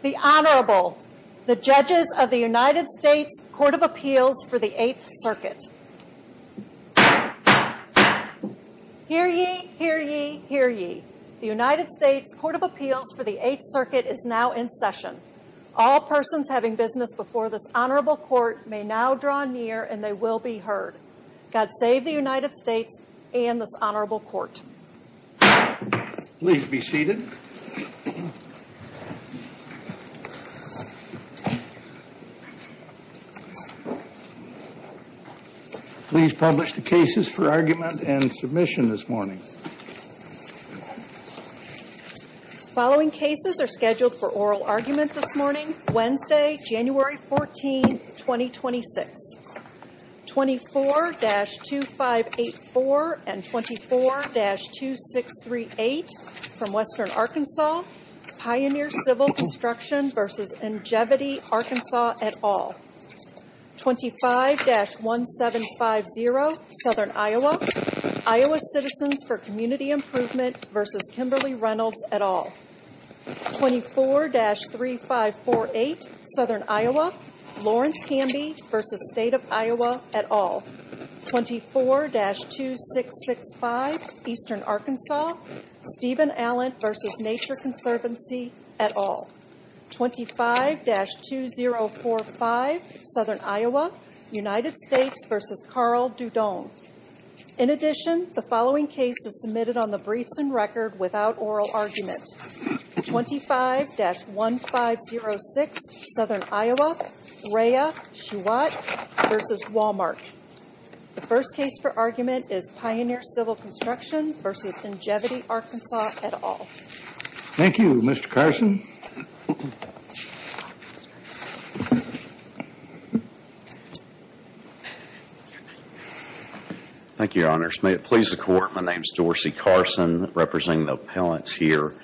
The Honorable, the Judges of the United States Court of Appeals for the 8th Circuit. Hear ye, hear ye, hear ye. The United States Court of Appeals for the 8th Circuit is now in session. All persons having business before this Honorable Court may now draw near and they will be heard. God save the United States and this Honorable Court. Please be seated. Please publish the cases for argument and submission this morning. The following cases are scheduled for oral argument this morning, Wednesday, January 14, 2026. 24-2584 and 24-2638 from Western Arkansas, Pioneer Civil Construction v. Ingevity Arkansas, et al. 25-1750, Southern Iowa, Iowa Citizens for Community Improvement v. Kimberly Reynolds, et al. 24-3548, Southern Iowa, Lawrence-Camby v. State of Iowa, et al. 24-2665, Eastern Arkansas, Stephen Allen v. Nature Conservancy, et al. 25-2045, Southern Iowa, United States v. Carl Doudon. In addition, the following case is submitted on the briefs and record without oral argument. 25-1506, Southern Iowa, Raya, Chiwet, v. Walmart. The first case for argument is Pioneer Civil Construction v. Ingevity, Arkansas, et al. Thank you, Mr. Carson. Thank you, Your Honors. May it please the Court, my name is Dorsey Carson representing the appellants here.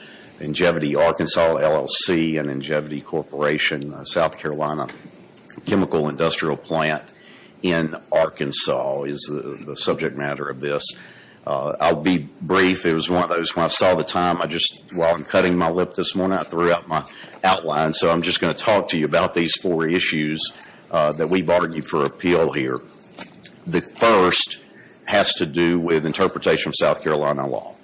Ingevity, Arkansas, LLC and Ingevity Corporation, a South Carolina chemical industrial plant in Arkansas is the subject matter of this. I'll be brief. It was when I saw the time, while I'm cutting my lip this morning, I threw out my outline. So I'm just going to talk to you about these four issues that we've argued for appeal here. The first has to do with interpretation of South Carolina law.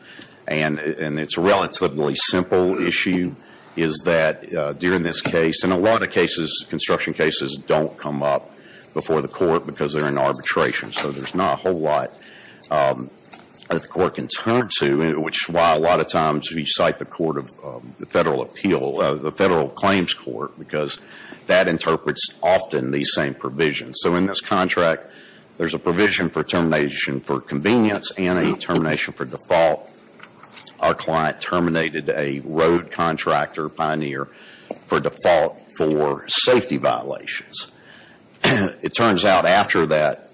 And it's a relatively simple issue, is that during this case, and a lot of construction cases don't come up before the court because they're in arbitration. So there's not a whole lot that the court can turn to, which is why a lot of times we cite the federal appeal, the federal claims court, because that interprets often these same provisions. So in this contract, there's a provision for termination for convenience and a termination for default. Our client terminated a road contractor, Pioneer, for default for safety violations. It turns out after that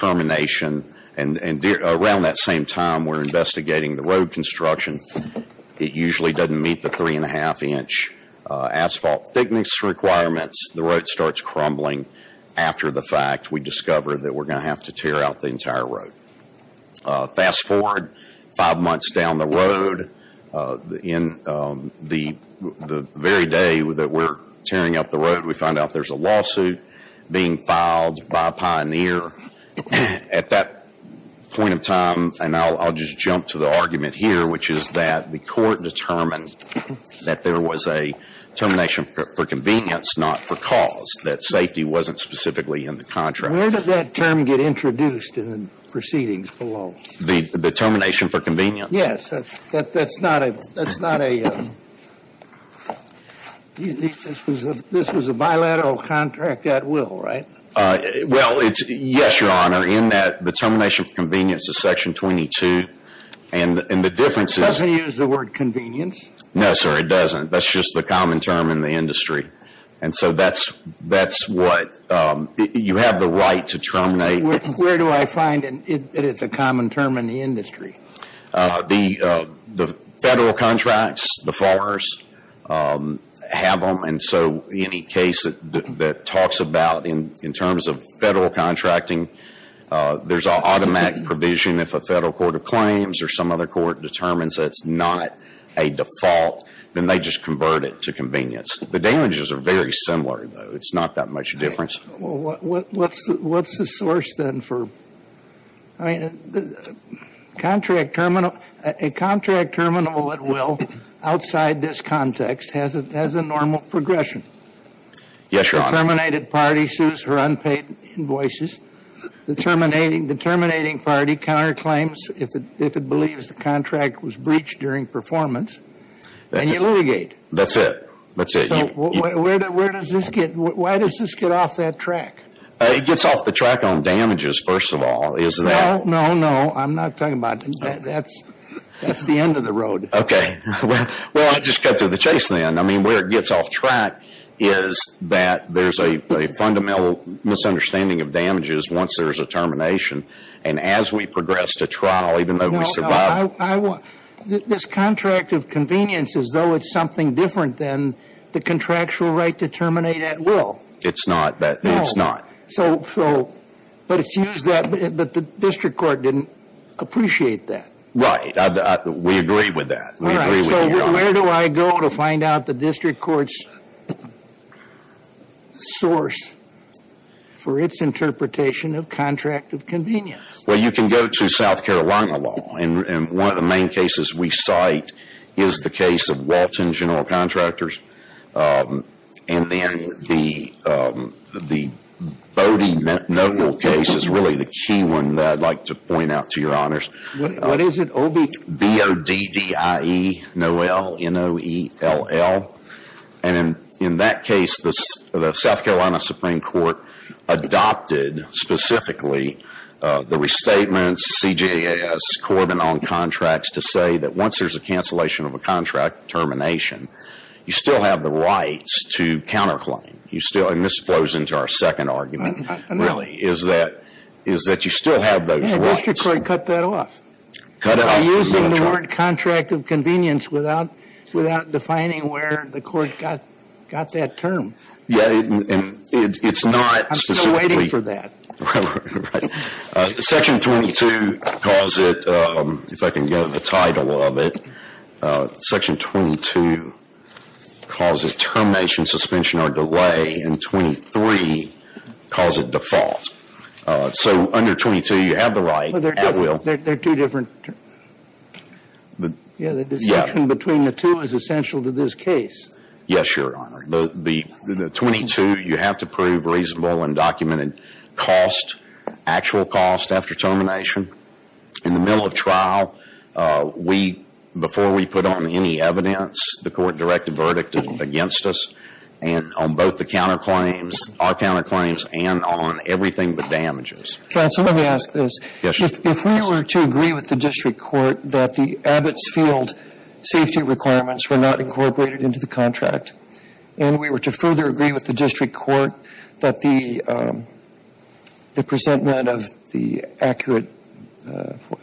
termination, and around that same time we're investigating the road construction, it usually doesn't meet the three and a half inch asphalt thickness requirements. The road starts crumbling after the fact. We discover that we're going to have to tear out the entire road. Fast forward five months down the road. In the very day that we're tearing out the road, we find out there's a lawsuit being filed by Pioneer. At that point in time, and I'll just jump to the argument here, which is that the court determined that there was a termination for convenience, not for cause, that safety wasn't specifically in the contract. Sir, where did that term get introduced in the proceedings below? The termination for convenience? Yes, that's not a, this was a bilateral contract at will, right? Well, yes, your honor, in that the termination for convenience is section 22, and the difference is... It doesn't use the word convenience? No, sir, it doesn't. That's just the common term in the industry. And so that's what, you have the right to terminate. Where do I find that it's a common term in the industry? The federal contracts, the farmers have them, and so any case that talks about, in terms of federal contracting, there's an automatic provision if a federal court of claims or some other court determines that it's not a default, then they just convert it to convenience. The damages are very similar, though. It's not that much difference. Well, what's the source then for, I mean, a contract terminal at will outside this context has a normal progression. Yes, your honor. The terminated party sues for unpaid invoices. The terminating party counterclaims if it believes the contract was breached during performance, and you litigate. That's it. So where does this get, why does this get off that track? It gets off the track on damages, first of all. No, no, no, I'm not talking about that. That's the end of the road. Okay. Well, I'll just cut to the chase then. I mean, where it gets off track is that there's a fundamental misunderstanding of damages once there's a termination, and as we progress to trial, even though we survive... This contract of convenience is, though, it's something different than the contractual right to terminate at will. It's not. So, but it's used that, but the district court didn't appreciate that. Right. We agree with that. All right. So where do I go to find out the district court's source for its interpretation of contract of convenience? Well, you can go to South Carolina law, and one of the main cases we cite is the case of Walton General Contractors, and then the Bodine Noble case is really the key one that I'd like to point out to your honors. What is it, OB? B-O-D-D-I-E, Noel, N-O-E-L-L. And in that case, the South Carolina Supreme Court adopted specifically the restatements, C-G-A-S, Corbin on contracts to say that once there's a cancellation of a contract termination, you still have the rights to counterclaim. You still, and this flows into our second argument, really, is that you still have those rights. Yeah, district court cut that off. Cut it off. They're using the warrant contract of convenience without defining where the court got that term. Yeah, and it's not specifically. I'm still waiting for that. Right. Section 22 calls it, if I can get the title of it, Section 22 calls it termination, suspension, or delay, and 23 calls it default. So under 22, you have the right at will. They're two different. Yeah, the distinction between the two is essential to this case. Yes, Your Honor. The 22, you have to prove reasonable and documented cost, actual cost after termination. In the middle of trial, we, before we put on any evidence, the court directed verdict against us on both the counterclaims, our counterclaims, and on everything but damages. Counsel, let me ask this. Yes, Your Honor. If we were to agree with the district court that the Abbott's Field safety requirements were not incorporated into the contract, and we were to further agree with the district court that the presentment of the accurate,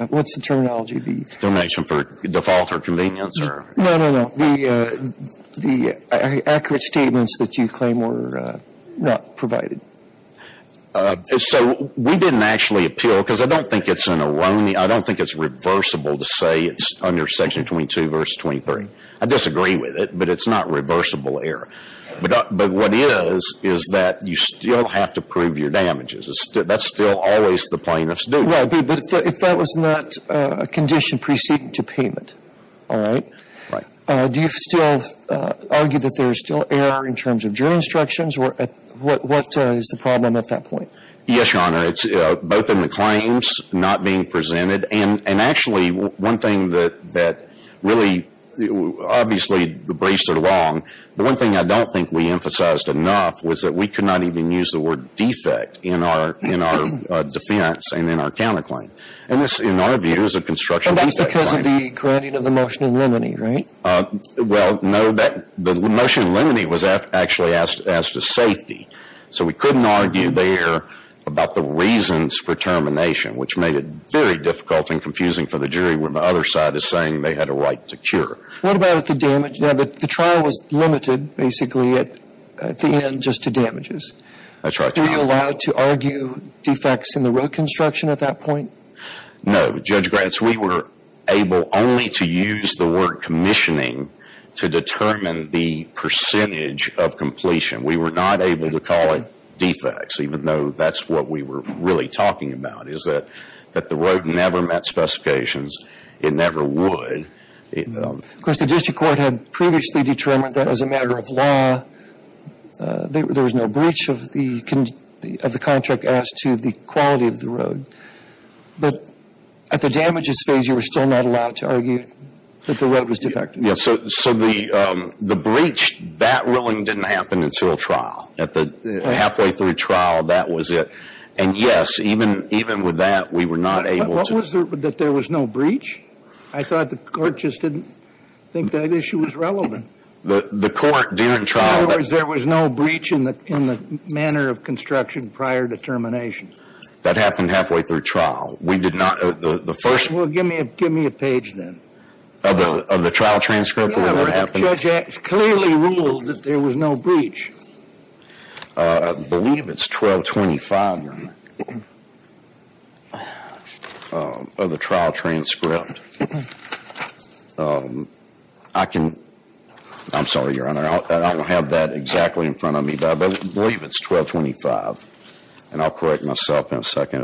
what's the terminology? Termination for default or convenience or? No, no, no. The accurate statements that you claim were not provided. So we didn't actually appeal because I don't think it's an erroneous, I don't think it's reversible to say it's under Section 22 verse 23. I disagree with it, but it's not reversible error. But what it is is that you still have to prove your damages. That's still always the plaintiff's duty. Well, but if that was not a condition preceding to payment, all right? Right. Do you still argue that there's still error in terms of jury instructions or what is the problem at that point? Yes, Your Honor. It's both in the claims not being presented and actually one thing that really obviously the briefs are long. The one thing I don't think we emphasized enough was that we could not even use the word defect in our defense and in our counterclaim. And this, in our view, is a construction defect. And that's because of the grounding of the motion in limine, right? Well, no, the motion in limine was actually asked as to safety. So we couldn't argue there about the reasons for termination, which made it very difficult and confusing for the jury when the other side is saying they had a right to cure. What about the damage? Now, the trial was limited basically at the end just to damages. That's right. Were you allowed to argue defects in the road construction at that point? No. Judge Gratz, we were able only to use the word commissioning to determine the percentage of completion. We were not able to call it defects, even though that's what we were really talking about is that the road never met specifications. It never would. Of course, the district court had previously determined that as a matter of law there was no breach of the contract as to the quality of the road. But at the damages phase, you were still not allowed to argue that the road was defective. So the breach, that ruling didn't happen until trial. At the halfway through trial, that was it. And, yes, even with that, we were not able to – What was the – that there was no breach? I thought the court just didn't think that issue was relevant. The court during trial – In other words, there was no breach in the manner of construction prior to termination. That happened halfway through trial. We did not – the first – Well, give me a page then. Of the trial transcript of what happened? Yes, Judge, it clearly ruled that there was no breach. I believe it's 1225, Your Honor, of the trial transcript. I can – I'm sorry, Your Honor, I don't have that exactly in front of me. But I believe it's 1225. And I'll correct myself in a second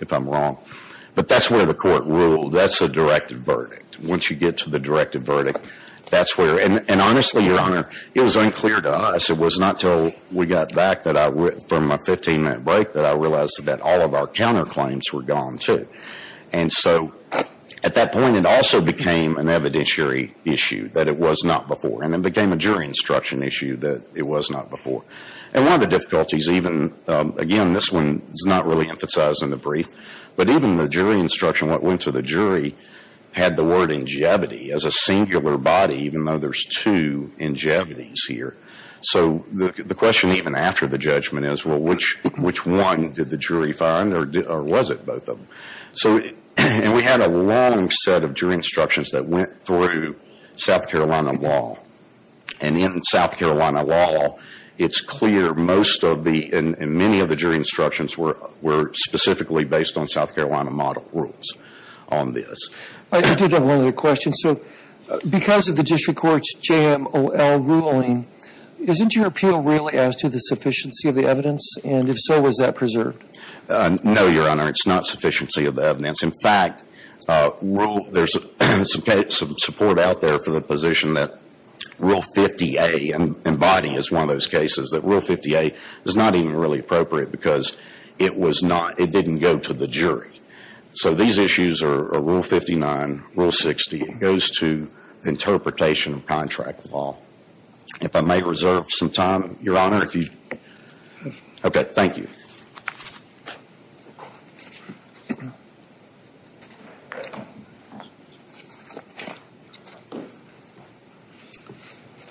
if I'm wrong. But that's where the court ruled. That's the directive verdict. Once you get to the directive verdict, that's where – And honestly, Your Honor, it was unclear to us. It was not until we got back that I – from my 15-minute break that I realized that all of our counterclaims were gone too. And so at that point, it also became an evidentiary issue that it was not before. And it became a jury instruction issue that it was not before. And one of the difficulties even – again, this one is not really emphasized in the brief. But even the jury instruction, what went to the jury, had the word ingevity as a singular body, even though there's two ingevities here. So the question even after the judgment is, well, which one did the jury find or was it both of them? So – and we had a long set of jury instructions that went through South Carolina law. And in South Carolina law, it's clear most of the – and many of the jury instructions were specifically based on South Carolina model rules on this. I did have one other question. So because of the district court's JMOL ruling, isn't your appeal really as to the sufficiency of the evidence? And if so, was that preserved? No, Your Honor. It's not sufficiency of the evidence. In fact, there's some support out there for the position that Rule 50A, and body is one of those cases, that Rule 50A is not even really appropriate because it was not – it didn't go to the jury. So these issues are Rule 59, Rule 60. It goes to interpretation of contract law. If I may reserve some time, Your Honor, if you – okay, thank you.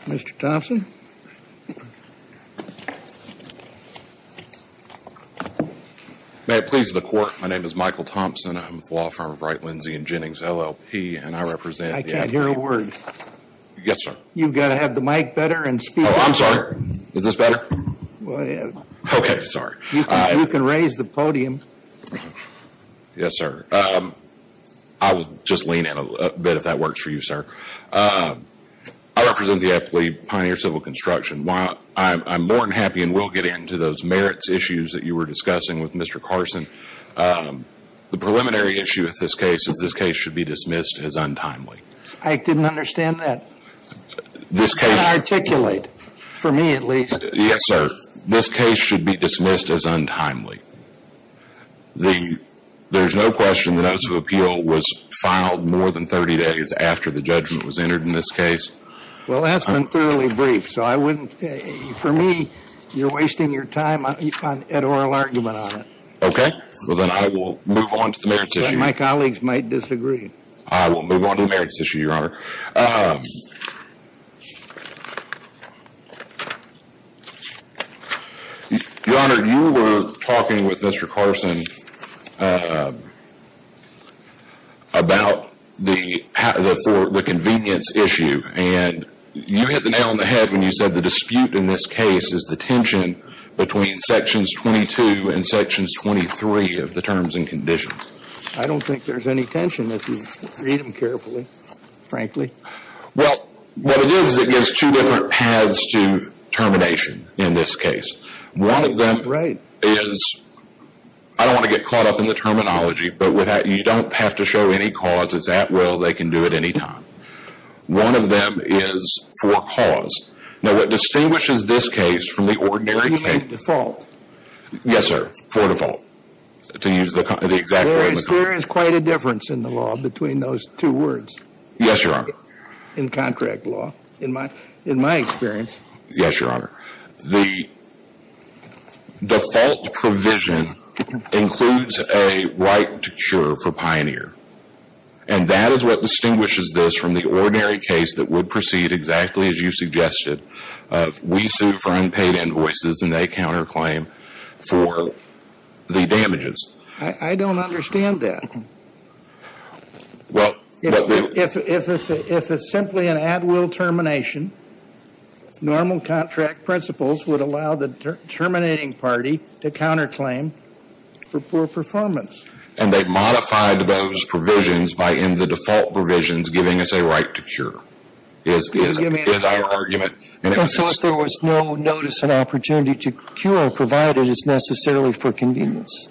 Mr. Thompson? May it please the Court, my name is Michael Thompson. I'm with the law firm of Wright, Lindsey & Jennings, LLP, and I represent the – I can't hear a word. Yes, sir. You've got to have the mic better and speak – Oh, I'm sorry. Is this better? Well, yeah. Okay, sorry. You can raise the podium. Yes, sir. I will just lean in a bit if that works for you, sir. I represent the LLP, Pioneer Civil Construction. While I'm more than happy and will get into those merits issues that you were discussing with Mr. Carson, the preliminary issue with this case is this case should be dismissed as untimely. I didn't understand that. You can't articulate, for me at least. Yes, sir. This case should be dismissed as untimely. There's no question the notice of appeal was filed more than 30 days after the judgment was entered in this case. Well, that's been thoroughly briefed, so I wouldn't – for me, you're wasting your time on an oral argument on it. Okay. Well, then I will move on to the merits issue. My colleagues might disagree. I will move on to the merits issue, Your Honor. Your Honor, you were talking with Mr. Carson about the convenience issue, and you hit the nail on the head when you said the dispute in this case is the tension between Sections 22 and Sections 23 of the Terms and Conditions. I don't think there's any tension if you read them carefully, frankly. Well, what it is is it gives two different paths to termination in this case. One of them is – I don't want to get caught up in the terminology, but you don't have to show any cause. It's at will. They can do it any time. One of them is for cause. Now, what distinguishes this case from the ordinary case – You mean default? Yes, sir. For default. To use the exact word. There is quite a difference in the law between those two words. Yes, Your Honor. In contract law, in my experience. Yes, Your Honor. The default provision includes a right to cure for pioneer, and that is what distinguishes this from the ordinary case that would proceed exactly as you suggested. We sue for unpaid invoices, and they counterclaim for the damages. I don't understand that. Well – If it's simply an at will termination, normal contract principles would allow the terminating party to counterclaim for poor performance. And they've modified those provisions by, in the default provisions, giving us a right to cure. That is our argument. So if there was no notice and opportunity to cure, provided it's necessarily for convenience.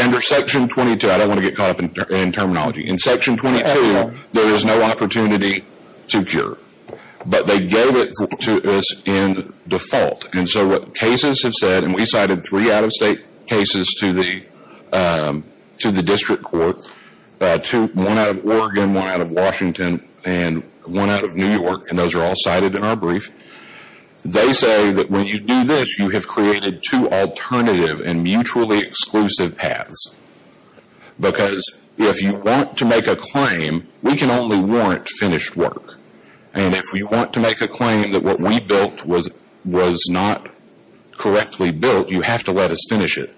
Under Section 22, I don't want to get caught up in terminology. In Section 22, there is no opportunity to cure. But they gave it to us in default. And so what cases have said, and we cited three out-of-state cases to the District Court, one out of Oregon, one out of Washington, and one out of New York, and those are all cited in our brief. They say that when you do this, you have created two alternative and mutually exclusive paths. Because if you want to make a claim, we can only warrant finished work. And if we want to make a claim that what we built was not correctly built, you have to let us finish it.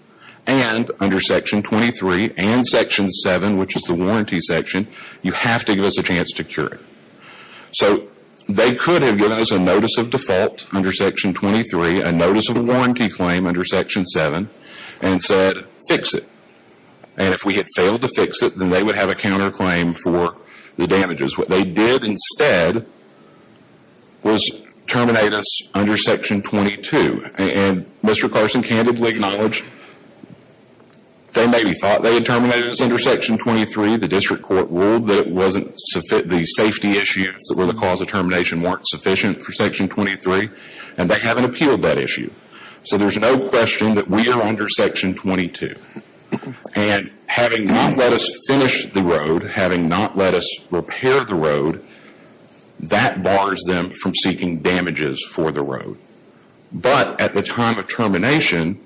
And under Section 23 and Section 7, which is the warranty section, you have to give us a chance to cure it. So they could have given us a notice of default under Section 23, a notice of warranty claim under Section 7, and said, fix it. And if we had failed to fix it, then they would have a counterclaim for the damages. What they did instead was terminate us under Section 22. And Mr. Carson candidly acknowledged they maybe thought they had terminated us under Section 23. The District Court ruled that it wasn't the safety issues that were the cause of termination weren't sufficient for Section 23, and they haven't appealed that issue. So there's no question that we are under Section 22. And having not let us finish the road, having not let us repair the road, that bars them from seeking damages for the road. But at the time of termination,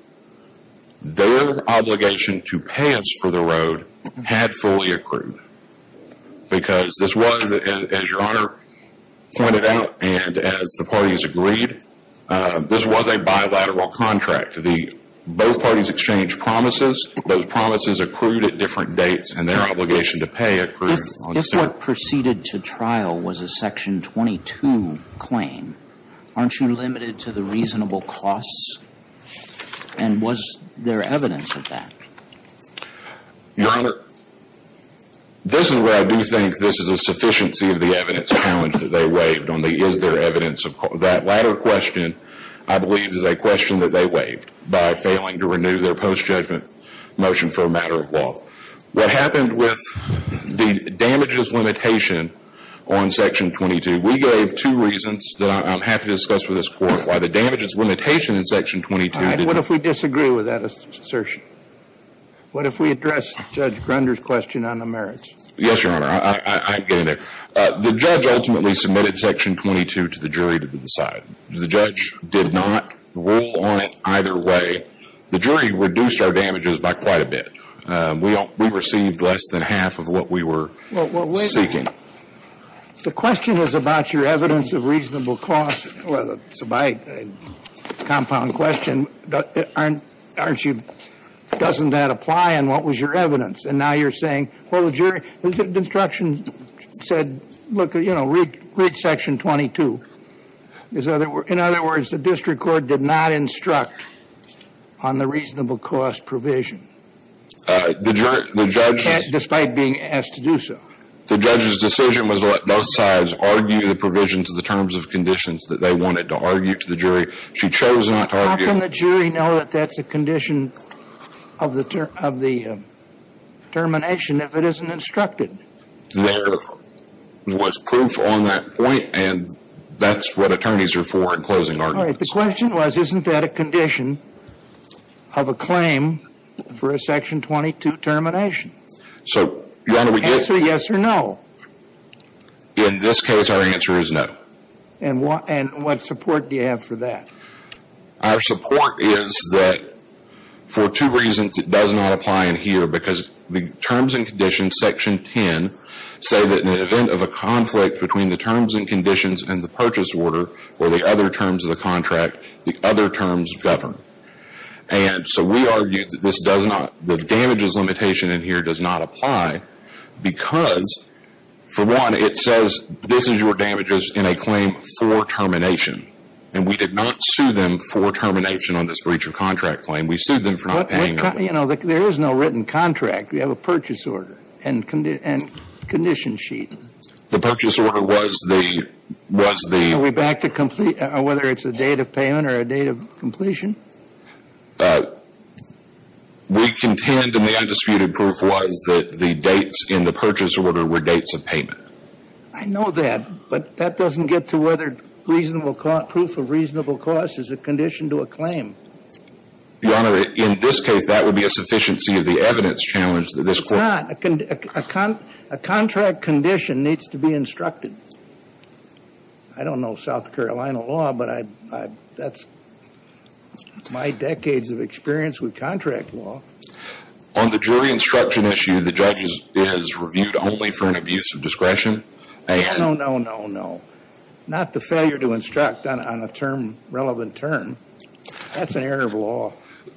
their obligation to pay us for the road had fully accrued. Because this was, as Your Honor pointed out, and as the parties agreed, this was a bilateral contract. Both parties exchanged promises. Those promises accrued at different dates, and their obligation to pay accrued. If what proceeded to trial was a Section 22 claim, aren't you limited to the reasonable costs? And was there evidence of that? Your Honor, this is where I do think this is a sufficiency of the evidence challenge that they waived on the is there evidence. That latter question, I believe, is a question that they waived by failing to renew their post-judgment motion for a matter of law. What happened with the damages limitation on Section 22, we gave two reasons that I'm happy to discuss with this Court. Why the damages limitation in Section 22. All right. What if we disagree with that assertion? What if we address Judge Grunder's question on the merits? Yes, Your Honor. I can get in there. The judge ultimately submitted Section 22 to the jury to decide. The judge did not rule on it either way. The jury reduced our damages by quite a bit. We received less than half of what we were seeking. The question is about your evidence of reasonable costs. It's a compound question. Doesn't that apply? And what was your evidence? And now you're saying, well, the jury, the instruction said, look, you know, read Section 22. In other words, the district court did not instruct on the reasonable cost provision despite being asked to do so. The judge's decision was to let both sides argue the provision to the terms of conditions that they wanted to argue to the jury. She chose not to argue. How can the jury know that that's a condition of the termination if it isn't instructed? There was proof on that point, and that's what attorneys are for in closing arguments. All right. The question was, isn't that a condition of a claim for a Section 22 termination? So, Your Honor, we did. Answer yes or no. In this case, our answer is no. And what support do you have for that? Our support is that for two reasons it does not apply in here, because the terms and conditions, Section 10, say that in the event of a conflict between the terms and conditions and the purchase order or the other terms of the contract, the other terms govern. And so we argue that this does not, the damages limitation in here does not apply because, for one, it says this is your damages in a claim for termination. And we did not sue them for termination on this breach of contract claim. We sued them for not paying up. You know, there is no written contract. We have a purchase order and condition sheet. The purchase order was the, was the. Are we back to complete, whether it's a date of payment or a date of completion? We contend, and the undisputed proof was, that the dates in the purchase order were dates of payment. I know that. But that doesn't get to whether reasonable, proof of reasonable cost is a condition to a claim. Your Honor, in this case, that would be a sufficiency of the evidence challenged in this court. It's not. A contract condition needs to be instructed. I don't know South Carolina law, but I, that's my decades of experience with contract law. On the jury instruction issue, the judge is reviewed only for an abuse of discretion. No, no, no, no. Not the failure to instruct on a term, relevant term. That's an error of law.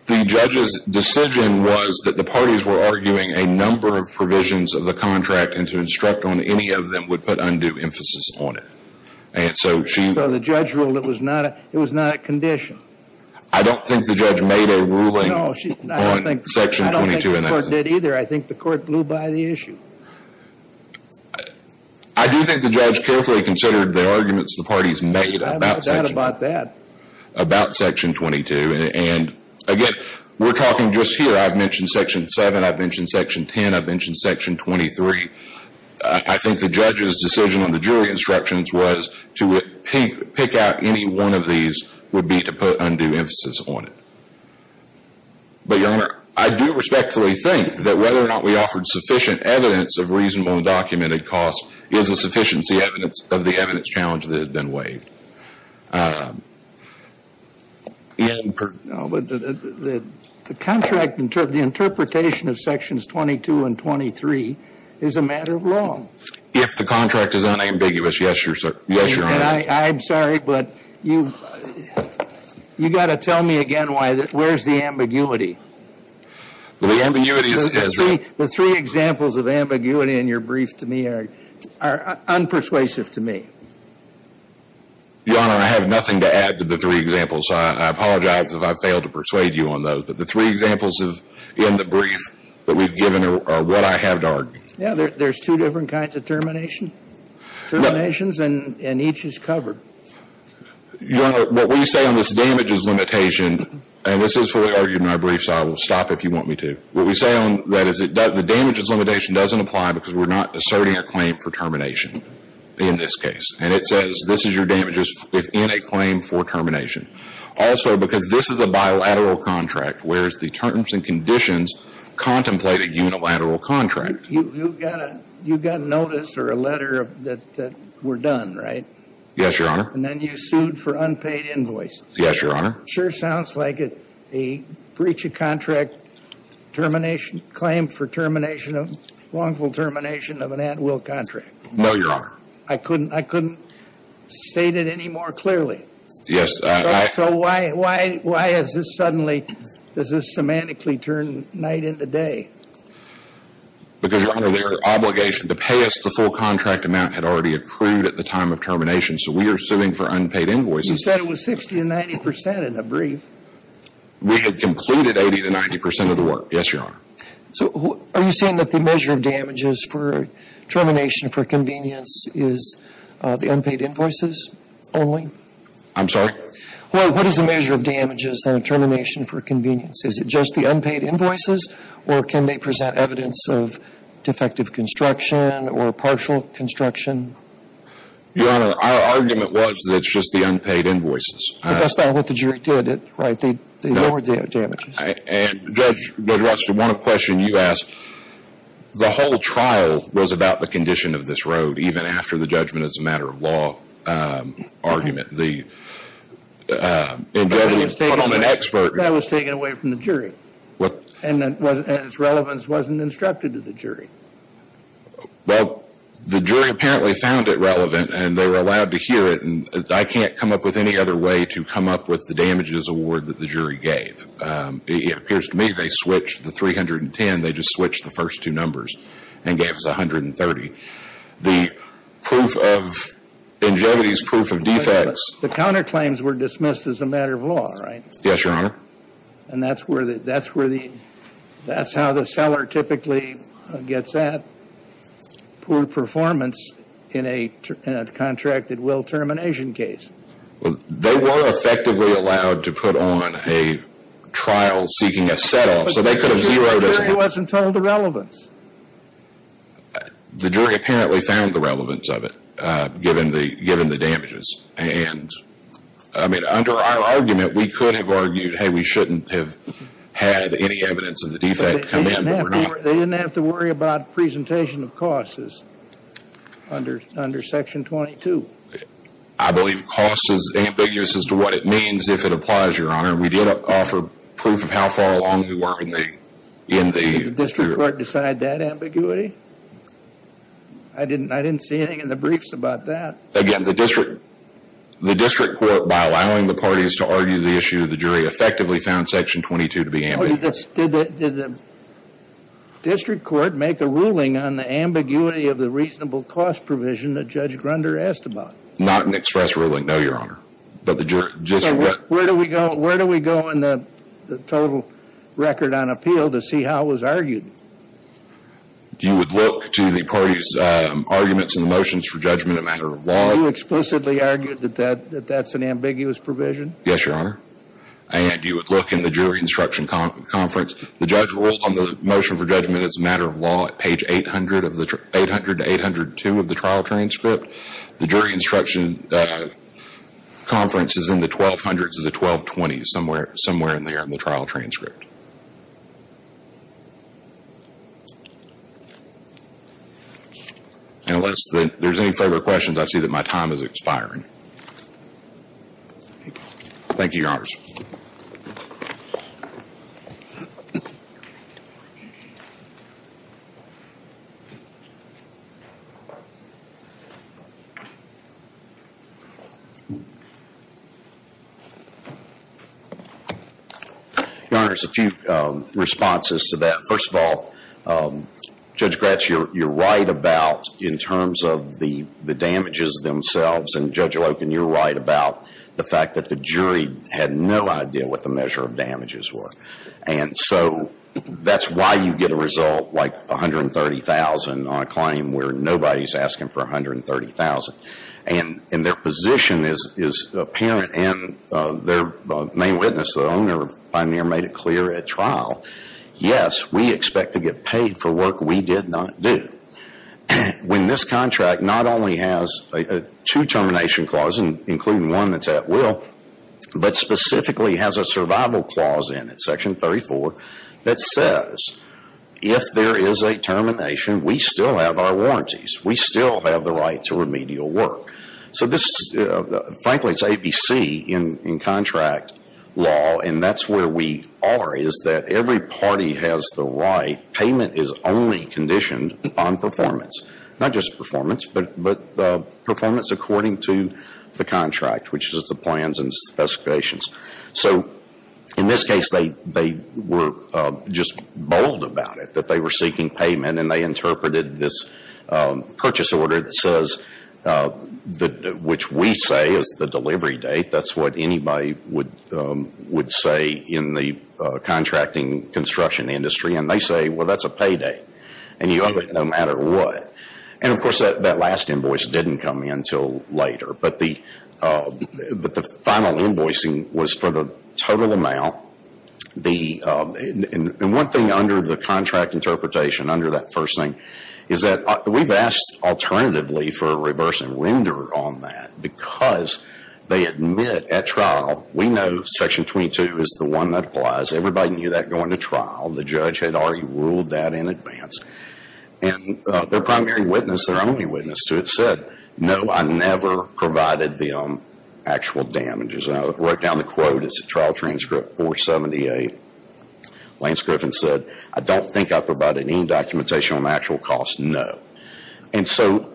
The judge's decision was that the parties were arguing a number of provisions of the contract and to instruct on any of them would put undue emphasis on it. And so she. So the judge ruled it was not, it was not a condition. I don't think the judge made a ruling. No, she. I don't think the court did either. I think the court blew by the issue. I do think the judge carefully considered the arguments the parties made about section 22. And again, we're talking just here. I've mentioned section 7. I've mentioned section 10. I've mentioned section 23. I think the judge's decision on the jury instructions was to pick out any one of these would be to put undue emphasis on it. But, Your Honor, I do respectfully think that whether or not we offered sufficient evidence of reasonable and documented cost is a sufficiency of the evidence challenge that has been waived. The contract, the interpretation of sections 22 and 23 is a matter of law. If the contract is unambiguous, yes, Your Honor. And I'm sorry, but you've got to tell me again where's the ambiguity. The ambiguity is. The three examples of ambiguity in your brief to me are unpersuasive to me. Your Honor, I have nothing to add to the three examples. I apologize if I failed to persuade you on those. But the three examples in the brief that we've given are what I have to argue. Yeah, there's two different kinds of termination. Terminations and each is covered. Your Honor, what we say on this damages limitation, and this is fully argued in my brief, so I will stop if you want me to. What we say on that is the damages limitation doesn't apply because we're not asserting a claim for termination in this case. And it says this is your damages within a claim for termination. Also, because this is a bilateral contract, whereas the terms and conditions contemplate a unilateral contract. You've got a notice or a letter that we're done, right? Yes, Your Honor. And then you sued for unpaid invoices. Yes, Your Honor. Sure sounds like a breach of contract termination, claim for termination, wrongful termination of an at-will contract. No, Your Honor. I couldn't state it any more clearly. Yes, I. So why is this suddenly, does this semantically turn night into day? Because, Your Honor, their obligation to pay us the full contract amount had already accrued at the time of termination, so we are suing for unpaid invoices. You said it was 60 to 90 percent in the brief. We had completed 80 to 90 percent of the work. Yes, Your Honor. So are you saying that the measure of damages for termination for convenience is the unpaid invoices only? I'm sorry? What is the measure of damages on termination for convenience? Is it just the unpaid invoices, or can they present evidence of defective construction or partial construction? Your Honor, our argument was that it's just the unpaid invoices. But that's not what the jury did, right? They lowered the damages. And Judge Rothstein, on a question you asked, the whole trial was about the condition of this road, even after the judgment as a matter of law argument. That was taken away from the jury. And its relevance wasn't instructed to the jury. Well, the jury apparently found it relevant, and they were allowed to hear it. And I can't come up with any other way to come up with the damages award that the jury gave. It appears to me they switched the 310. They just switched the first two numbers and gave us 130. The proof of ingenuity is proof of defects. But the counterclaims were dismissed as a matter of law, right? Yes, Your Honor. And that's where the – that's how the seller typically gets that poor performance in a contracted will termination case. Well, they were effectively allowed to put on a trial seeking a set-off, so they could have zeroed in. But the jury wasn't told the relevance. The jury apparently found the relevance of it, given the damages. And, I mean, under our argument, we could have argued, hey, we shouldn't have had any evidence of the defect come in. They didn't have to worry about presentation of costs under Section 22. I believe costs is ambiguous as to what it means, if it applies, Your Honor. We did offer proof of how far along we were in the – Did the district court decide that ambiguity? I didn't see anything in the briefs about that. Again, the district court, by allowing the parties to argue the issue, the jury effectively found Section 22 to be ambiguous. Did the district court make a ruling on the ambiguity of the reasonable cost provision that Judge Grunder asked about? Not an express ruling, no, Your Honor. Where do we go in the total record on appeal to see how it was argued? You would look to the parties' arguments in the motions for judgment, a matter of law. You explicitly argued that that's an ambiguous provision? Yes, Your Honor. And you would look in the jury instruction conference. The judge ruled on the motion for judgment as a matter of law at page 800 to 802 of the trial transcript. The jury instruction conference is in the 1200s to the 1220s, somewhere in there in the trial transcript. Unless there's any further questions, I see that my time is expiring. Thank you, Your Honor. Your Honor, there's a few responses to that. First of all, Judge Gratz, you're right about in terms of the damages themselves, and Judge Loken, you're right about the fact that the jury had no idea what the measure of damages were. And so that's why you get a result like $130,000 on a claim where nobody's asking for $130,000. And their position is apparent, and their main witness, the owner of Pioneer, made it clear at trial, yes, we expect to get paid for work we did not do. When this contract not only has two termination clauses, including one that's at will, but specifically has a survival clause in it, section 34, that says, if there is a termination, we still have our warranties. We still have the right to remedial work. So this is, frankly, it's ABC in contract law, and that's where we are, is that every party has the right, payment is only conditioned upon performance. Not just performance, but performance according to the contract, which is the plans and specifications. So in this case, they were just bold about it, that they were seeking payment, and they interpreted this purchase order that says, which we say is the delivery date. That's what anybody would say in the contracting construction industry. And they say, well, that's a payday, and you owe it no matter what. And, of course, that last invoice didn't come in until later. But the final invoicing was for the total amount. And one thing under the contract interpretation, under that first thing, is that we've asked alternatively for a reverse and render on that, because they admit at trial, we know section 22 is the one that applies. Everybody knew that going to trial. The judge had already ruled that in advance. And their primary witness, their only witness to it, said, no, I never provided them actual damages. I wrote down the quote, it's a trial transcript, 478. Lance Griffin said, I don't think I provided any documentation on actual costs, no. And so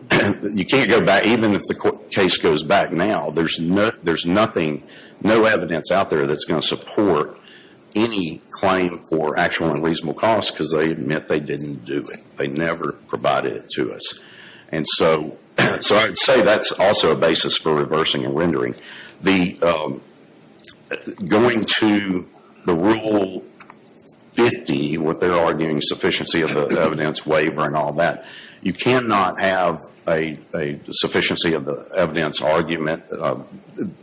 you can't go back, even if the case goes back now, there's no evidence out there that's going to support any claim for actual and reasonable costs, because they admit they didn't do it. They never provided it to us. And so I'd say that's also a basis for reversing and rendering. Going to the Rule 50, what they're arguing, sufficiency of the evidence waiver and all that, you cannot have a sufficiency of the evidence argument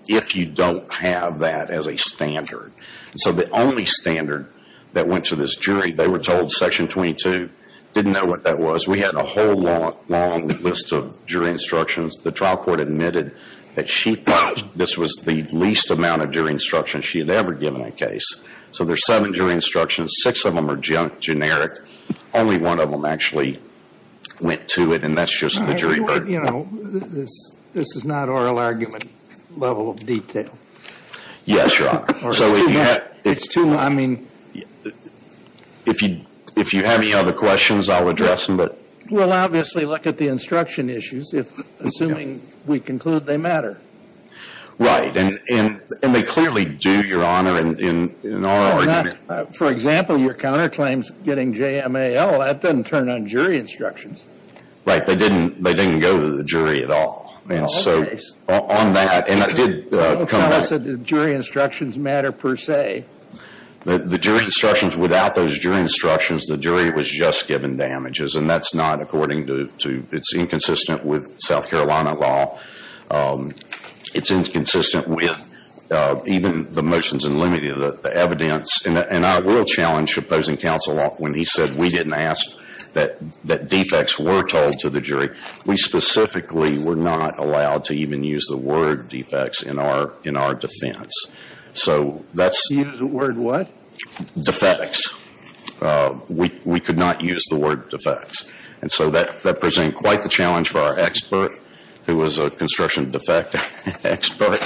if you don't have that as a standard. So the only standard that went to this jury, they were told section 22, didn't know what that was. We had a whole long list of jury instructions. The trial court admitted that she thought this was the least amount of jury instructions she had ever given a case. So there's seven jury instructions. Six of them are generic. Only one of them actually went to it, and that's just the jury verdict. You know, this is not oral argument level of detail. Yes, Your Honor. It's too much. If you have any other questions, I'll address them. We'll obviously look at the instruction issues, assuming we conclude they matter. Right. And they clearly do, Your Honor, in oral argument. For example, your counterclaims getting JMAL, that doesn't turn on jury instructions. Right. They didn't go to the jury at all. And so on that, and it did come back. You said the jury instructions matter per se. The jury instructions, without those jury instructions, the jury was just given damages, and that's not according to, it's inconsistent with South Carolina law. It's inconsistent with even the motions in limited evidence, and I will challenge opposing counsel when he said we didn't ask that defects were told to the jury. We specifically were not allowed to even use the word defects in our defense. So that's. Use the word what? Defects. We could not use the word defects. And so that presented quite the challenge for our expert, who was a construction defect expert,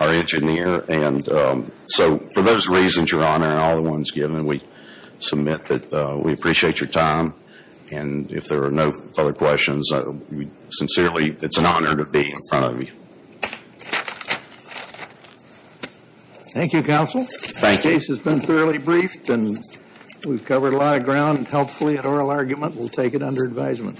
our engineer. And so for those reasons, Your Honor, and all the ones given, we submit that we appreciate your time. And if there are no further questions, sincerely, it's an honor to be in front of you. Thank you, counsel. Thank you. The case has been thoroughly briefed, and we've covered a lot of ground, and hopefully an oral argument will take it under advisement.